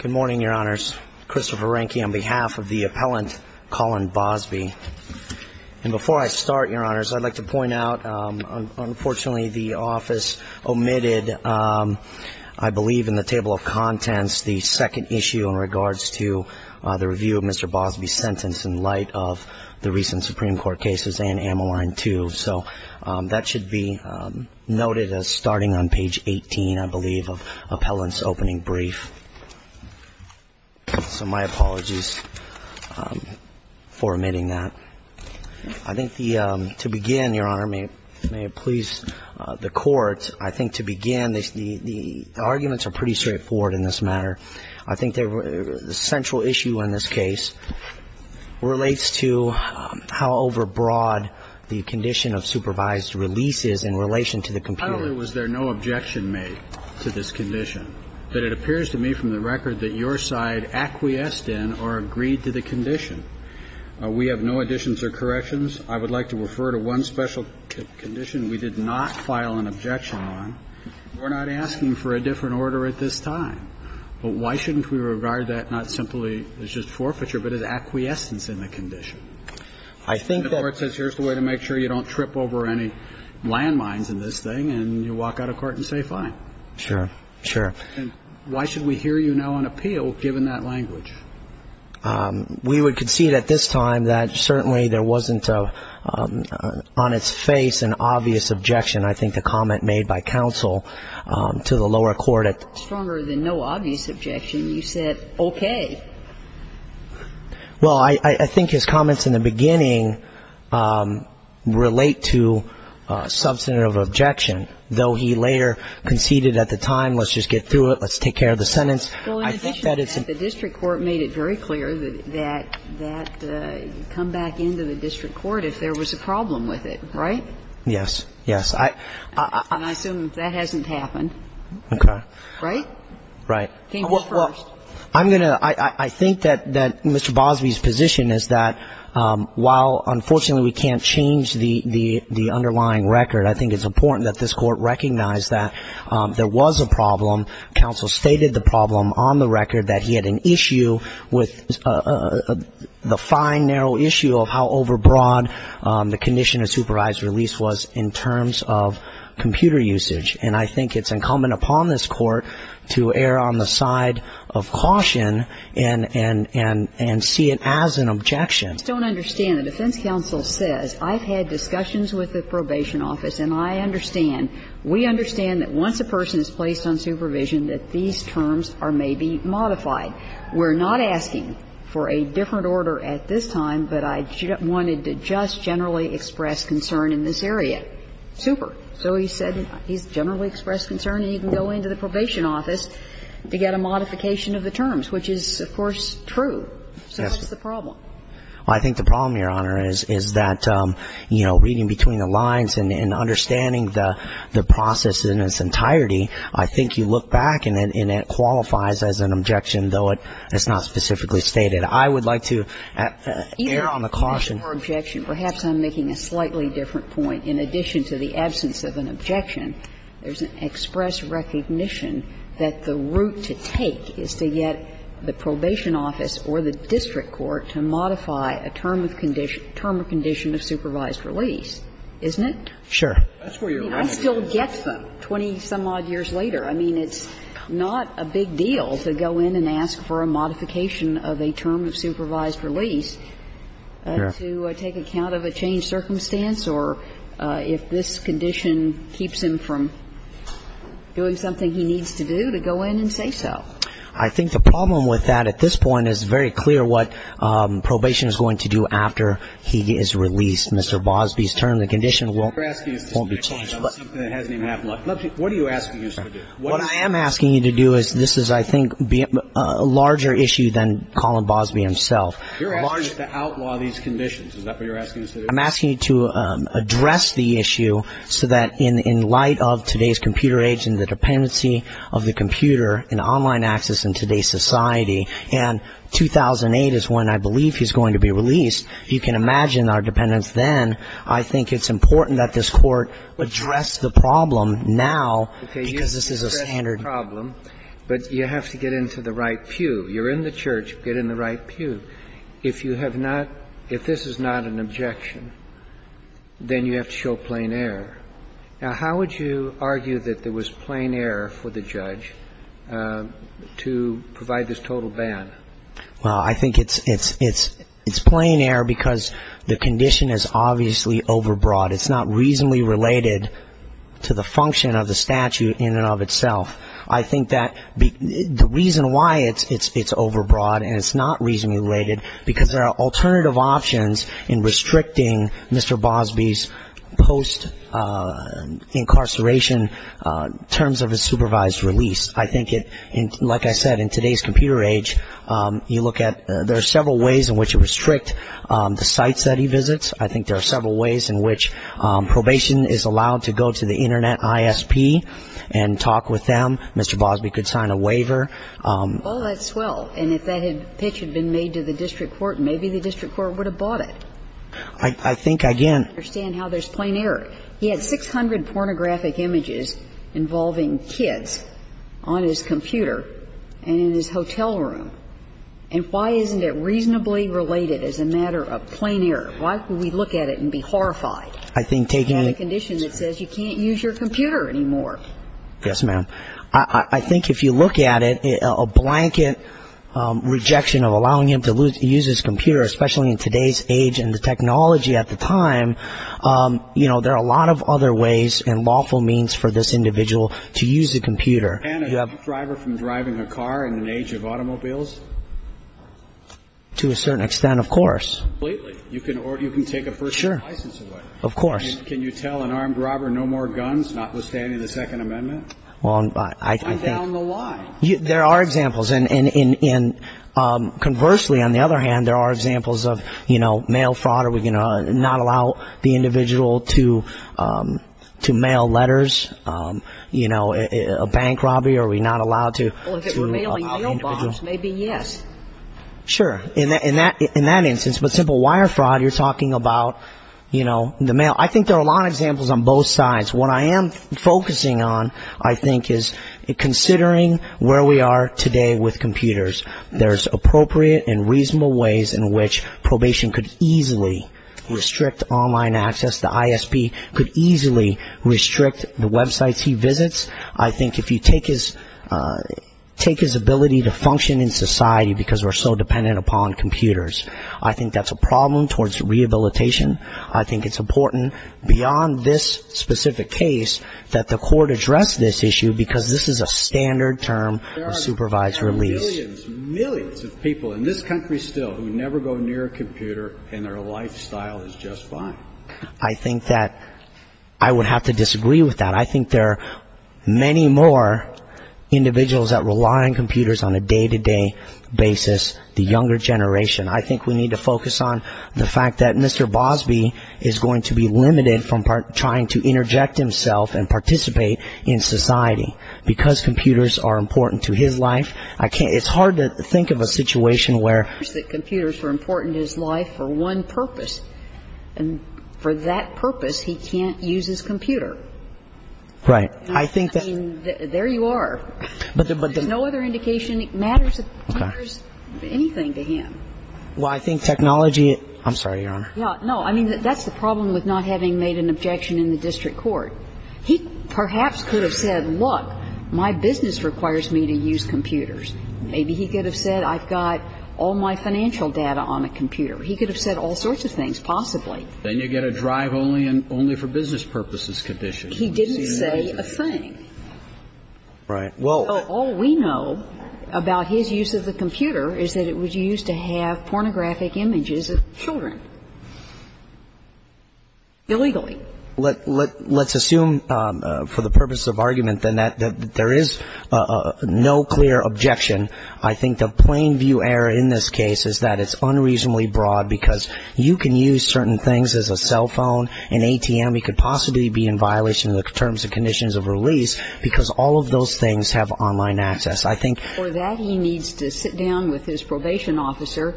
Good morning, Your Honors. Christopher Rehnke on behalf of the appellant Colin Bosby. And before I start, Your Honors, I'd like to point out, unfortunately, the office omitted, I believe in the table of contents, the second issue in regards to the review of Mr. Bosby's sentence in light of the recent Supreme Court cases and Amyline 2. So that should be noted as starting on page 18, I believe, of appellant's opening brief. So my apologies for omitting that. I think to begin, Your Honor, may it please the Court, I think to begin, the arguments are pretty straightforward in this matter. I think the central issue in this case relates to how overbroad the condition of supervised release is in relation to the computer. Finally, was there no objection made to this condition? But it appears to me from the record that your side acquiesced in or agreed to the condition. We have no additions or corrections. I would like to refer to one special condition we did not file an objection on. We're not asking for a different order at this time. But why shouldn't we regard that not simply as just forfeiture, but as acquiescence in the condition? I think that the Court says here's the way to make sure you don't trip over any landmines in this thing, and you walk out of court and say fine. Sure. Sure. And why should we hear you now on appeal, given that language? We would concede at this time that certainly there wasn't on its face an obvious objection. I think the comment made by counsel to the lower court at the time. Stronger than no obvious objection, you said okay. Well, I think his comments in the beginning relate to substantive objection. Though he later conceded at the time let's just get through it, let's take care of the sentence. Well, in addition to that, the district court made it very clear that you come back into the district court if there was a problem with it, right? Yes. Yes. And I assume that hasn't happened. Okay. Right? Right. Well, I'm going to ‑‑ I think that Mr. Bosby's position is that while unfortunately we can't change the underlying record, I think it's important that this Court recognize that there was a problem, counsel stated the problem on the record that he had an issue with the fine, narrow issue of how overbroad the condition of supervised release was in terms of computer usage. And I think it's incumbent upon this Court to err on the side of caution and see it as an objection. I just don't understand. The defense counsel says I've had discussions with the probation office and I understand, we understand that once a person is placed on supervision that these terms may be modified. We're not asking for a different order at this time, but I wanted to just generally express concern in this area. Super. So he said he's generally expressed concern and he can go into the probation office to get a modification of the terms, which is, of course, true. Yes. So what's the problem? I think the problem, Your Honor, is that, you know, reading between the lines and understanding the process in its entirety, I think you look back and it qualifies as an objection, though it's not specifically stated. I would like to err on the caution. Either objection. Perhaps I'm making a slightly different point. In addition to the absence of an objection, there's an express recognition that the route to take is to get the probation office or the district court to modify a term of condition of supervised release, isn't it? Sure. I mean, I still get them 20-some-odd years later. I mean, it's not a big deal to go in and ask for a modification of a term of supervised release to take account of a changed circumstance or if this condition keeps him from doing something he needs to do to go in and say so. I think the problem with that at this point is very clear what probation is going to do after he is released, Mr. Bosby's term. The condition won't be changed. What are you asking us to do? What I am asking you to do is this is, I think, a larger issue than Colin Bosby himself. You're asking us to outlaw these conditions. Is that what you're asking us to do? I'm asking you to address the issue so that in light of today's computer age and the dependency of the computer and online access in today's society, and 2008 is when I believe he's going to be released, you can imagine our dependence then. I think it's important that this Court address the problem now because this is a standard. Okay. You can address the problem, but you have to get into the right pew. You're in the church. Get in the right pew. If you have not, if this is not an objection, then you have to show plain error. Now, how would you argue that there was plain error for the judge to provide this total ban? Well, I think it's plain error because the condition is obviously overbroad. It's not reasonably related to the function of the statute in and of itself. I think that the reason why it's overbroad and it's not reasonably related, because there are alternative options in restricting Mr. Bosby's post-incarceration terms of his supervised release. I think it, like I said, in today's computer age, you look at, there are several ways in which you restrict the sites that he visits. I think there are several ways in which probation is allowed to go to the Internet ISP and talk with them. Mr. Bosby could sign a waiver. Well, that's swell. And if that pitch had been made to the district court, maybe the district court would have bought it. I think, again. I don't understand how there's plain error. He had 600 pornographic images involving kids on his computer and in his hotel room. And why isn't it reasonably related as a matter of plain error? Why would we look at it and be horrified? I think taking the condition that says you can't use your computer anymore. Yes, ma'am. I think if you look at it, a blanket rejection of allowing him to use his computer, especially in today's age and the technology at the time, you know, there are a lot of other ways and lawful means for this individual to use a computer. And a driver from driving a car in an age of automobiles? To a certain extent, of course. Completely. Or you can take a personal license away. Sure. Of course. Can you tell an armed robber no more guns, notwithstanding the Second Amendment? Well, I think. And down the line. There are examples. And conversely, on the other hand, there are examples of, you know, mail fraud. Are we going to not allow the individual to mail letters? You know, a bank robbery? Are we not allowed to allow the individual? Well, if it were mailing mail bombs, maybe yes. Sure. In that instance. But simple wire fraud, you're talking about, you know, the mail. I think there are a lot of examples on both sides. What I am focusing on, I think, is considering where we are today with computers. There's appropriate and reasonable ways in which probation could easily restrict online access. The ISP could easily restrict the websites he visits. I think if you take his ability to function in society because we're so dependent upon computers, I think that's a problem towards rehabilitation. I think it's important beyond this specific case that the court address this issue because this is a standard term of supervised release. There are millions, millions of people in this country still who never go near a computer and their lifestyle is just fine. I think that I would have to disagree with that. I think there are many more individuals that rely on computers on a day-to-day basis, the younger generation. I think we need to focus on the fact that Mr. Bosby is going to be limited from trying to interject himself and participate in society. Because computers are important to his life, I can't ‑‑ it's hard to think of a situation where ‑‑ Computers were important to his life for one purpose. And for that purpose, he can't use his computer. Right. I think that ‑‑ I mean, there you are. But there's no other indication. Well, I think technology ‑‑ I'm sorry, Your Honor. No, I mean, that's the problem with not having made an objection in the district court. He perhaps could have said, look, my business requires me to use computers. Maybe he could have said I've got all my financial data on a computer. He could have said all sorts of things, possibly. Then you get a drive only for business purposes condition. He didn't say a thing. Right. All we know about his use of the computer is that it was used to have pornographic images of children. Illegally. Let's assume for the purpose of argument that there is no clear objection. I think the plain view error in this case is that it's unreasonably broad because you can use certain things as a cell phone, an ATM. It could possibly be in violation of the terms and conditions of release because all of those things have online access. I think ‑‑ For that he needs to sit down with his probation officer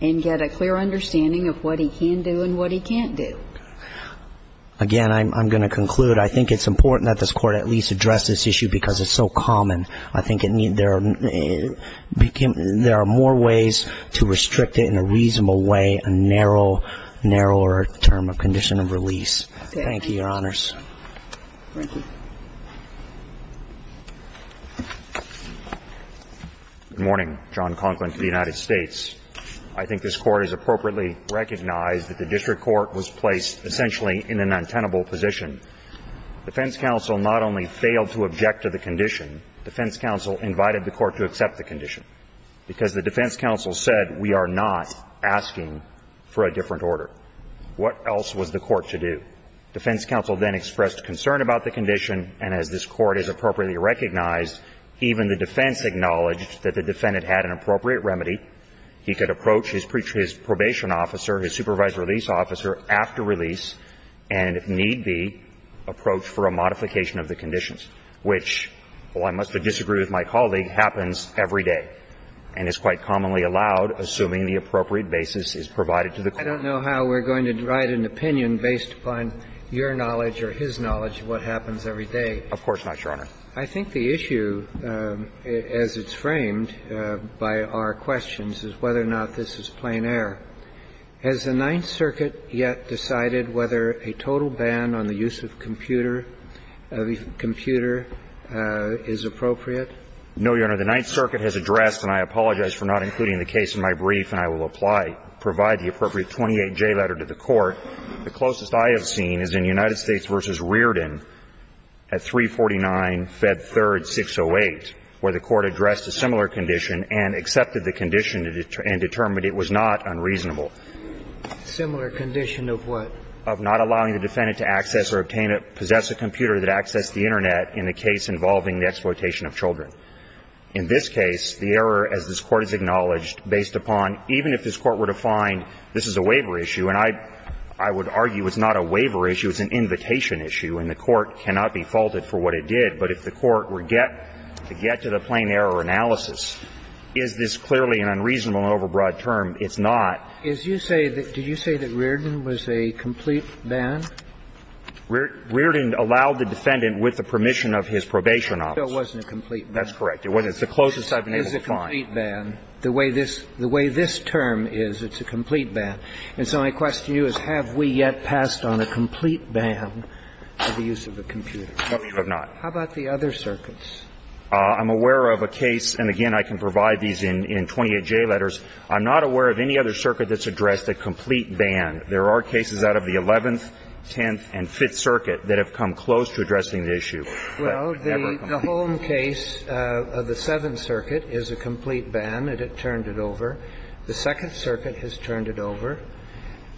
and get a clear understanding of what he can do and what he can't do. Again, I'm going to conclude. I think it's important that this Court at least address this issue because it's so common. I think there are more ways to restrict it in a reasonable way, a narrower term of condition of release. Thank you, Your Honors. Thank you. Good morning. John Conklin to the United States. I think this Court has appropriately recognized that the district court was placed essentially in an untenable position. Defense counsel not only failed to object to the condition, defense counsel invited the court to accept the condition because the defense counsel said we are not asking for a different order. What else was the court to do? Defense counsel then expressed concern about the condition, and as this Court has appropriately recognized, even the defense acknowledged that the defendant had an appropriate remedy. He could approach his probation officer, his supervised release officer after release and, if need be, approach for a modification of the conditions, which, while I must disagree with my colleague, happens every day and is quite commonly allowed, assuming the appropriate basis is provided to the court. I don't know how we're going to write an opinion based upon your knowledge or his knowledge of what happens every day. Of course not, Your Honor. I think the issue, as it's framed by our questions, is whether or not this is plain error. Has the Ninth Circuit yet decided whether a total ban on the use of computer is appropriate? No, Your Honor. The Ninth Circuit has addressed, and I apologize for not including the case in my brief and I will apply, provide the appropriate 28J letter to the court. The closest I have seen is in United States v. Rearden at 349, Fed 3rd, 608, where the court addressed a similar condition and accepted the condition and determined it was not unreasonable. Similar condition of what? Of not allowing the defendant to access or obtain or possess a computer that accessed the Internet in the case involving the exploitation of children. In this case, the error, as this Court has acknowledged, based upon, even if this Court were to find this is a waiver issue, and I would argue it's not a waiver issue, it's an invitation issue, and the court cannot be faulted for what it did, but if the court were to get to the plain error analysis, is this clearly an unreasonable and overbroad term? It's not. Did you say that Rearden was a complete ban? Rearden allowed the defendant with the permission of his probation office. No, it wasn't a complete ban. That's correct. It's the closest I've been able to find. It's a complete ban. The way this term is, it's a complete ban. And so my question to you is, have we yet passed on a complete ban for the use of a computer? No, we have not. How about the other circuits? I'm aware of a case, and again, I can provide these in 28J letters. I'm not aware of any other circuit that's addressed a complete ban. There are cases out of the 11th, 10th, and 5th Circuit that have come close to addressing the issue. Well, the Holm case of the 7th Circuit is a complete ban, and it turned it over. The 2nd Circuit has turned it over.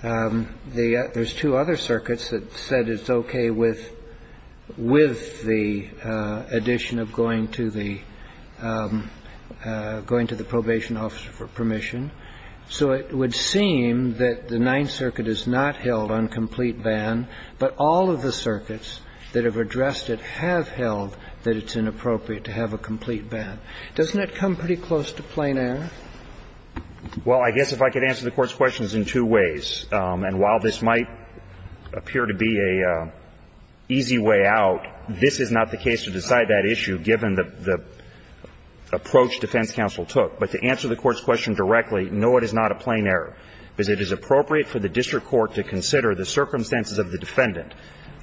There's two other circuits that said it's okay with the addition of going to the probation officer for permission. So it would seem that the 9th Circuit has not held on complete ban, but all of the other circuits have held that it's inappropriate to have a complete ban. Doesn't it come pretty close to plain error? Well, I guess if I could answer the Court's questions in two ways, and while this might appear to be an easy way out, this is not the case to decide that issue, given the approach defense counsel took. But to answer the Court's question directly, no, it is not a plain error, because it is appropriate for the district court to consider the circumstances of the defendant.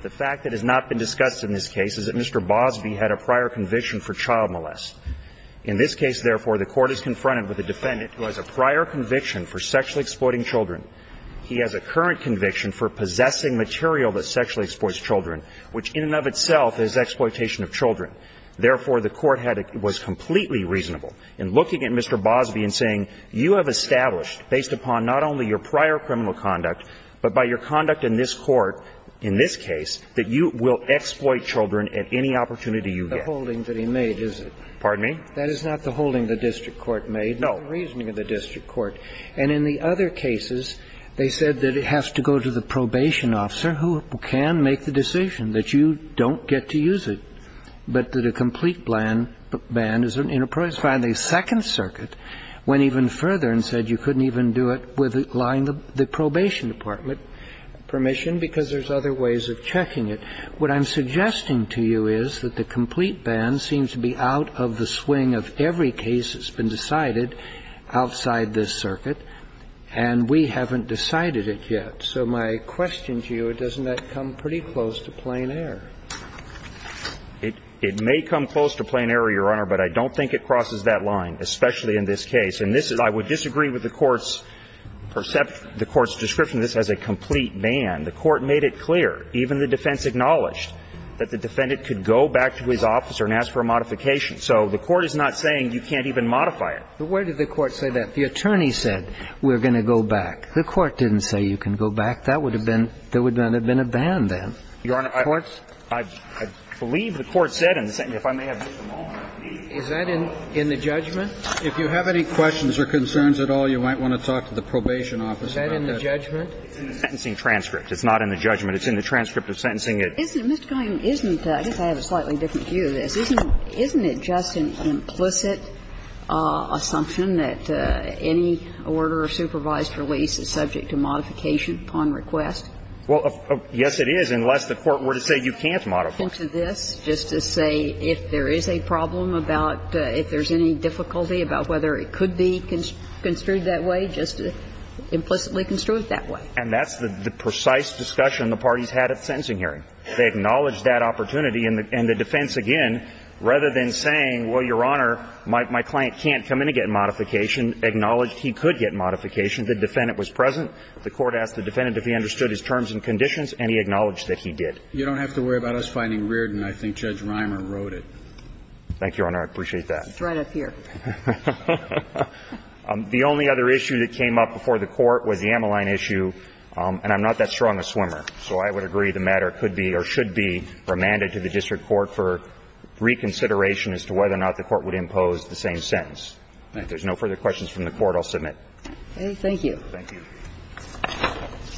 The fact that has not been discussed in this case is that Mr. Bosby had a prior conviction for child molest. In this case, therefore, the Court is confronted with a defendant who has a prior conviction for sexually exploiting children. He has a current conviction for possessing material that sexually exploits children, which in and of itself is exploitation of children. Therefore, the Court had a – was completely reasonable in looking at Mr. Bosby and saying, you have established, based upon not only your prior criminal conduct, but by your conduct in this court, in this case, that you will exploit children at any opportunity you get. The holding that he made is it? Pardon me? That is not the holding the district court made. No. The reasoning of the district court. And in the other cases, they said that it has to go to the probation officer who can make the decision, that you don't get to use it, but that a complete ban is inappropriate. Finally, Second Circuit went even further and said you couldn't even do it with a complete line of the probation department permission because there's other ways of checking it. What I'm suggesting to you is that the complete ban seems to be out of the swing of every case that's been decided outside this circuit, and we haven't decided it yet. So my question to you, doesn't that come pretty close to plain error? It may come close to plain error, Your Honor, but I don't think it crosses that line, especially in this case. And this is, I would disagree with the court's perception, the court's description of this as a complete ban. The court made it clear, even the defense acknowledged, that the defendant could go back to his office and ask for a modification. So the court is not saying you can't even modify it. But where did the court say that? The attorney said we're going to go back. The court didn't say you can go back. That would have been, there would not have been a ban then. Your Honor, I believe the court said in the sentence, if I may have just a moment. Is that in the judgment? If you have any questions or concerns at all, you might want to talk to the probation office about that. Is that in the judgment? It's in the sentencing transcript. It's not in the judgment. It's in the transcript of sentencing. Isn't it, Mr. Coyne, isn't that, I guess I have a slightly different view of this. Isn't it just an implicit assumption that any order of supervised release is subject to modification upon request? Well, yes, it is, unless the court were to say you can't modify it. I'm not going to go back into this just to say if there is a problem about, if there's any difficulty about whether it could be construed that way, just implicitly construed that way. And that's the precise discussion the parties had at the sentencing hearing. They acknowledged that opportunity. And the defense, again, rather than saying, well, Your Honor, my client can't come in and get modification, acknowledged he could get modification. The defendant was present. The court asked the defendant if he understood his terms and conditions, and he acknowledged that he did. You don't have to worry about us finding Reardon. I think Judge Reimer wrote it. Thank you, Your Honor. I appreciate that. It's right up here. The only other issue that came up before the Court was the Ameline issue. And I'm not that strong a swimmer, so I would agree the matter could be or should be remanded to the district court for reconsideration as to whether or not the Court would impose the same sentence. If there's no further questions from the Court, I'll submit. Thank you. Thank you.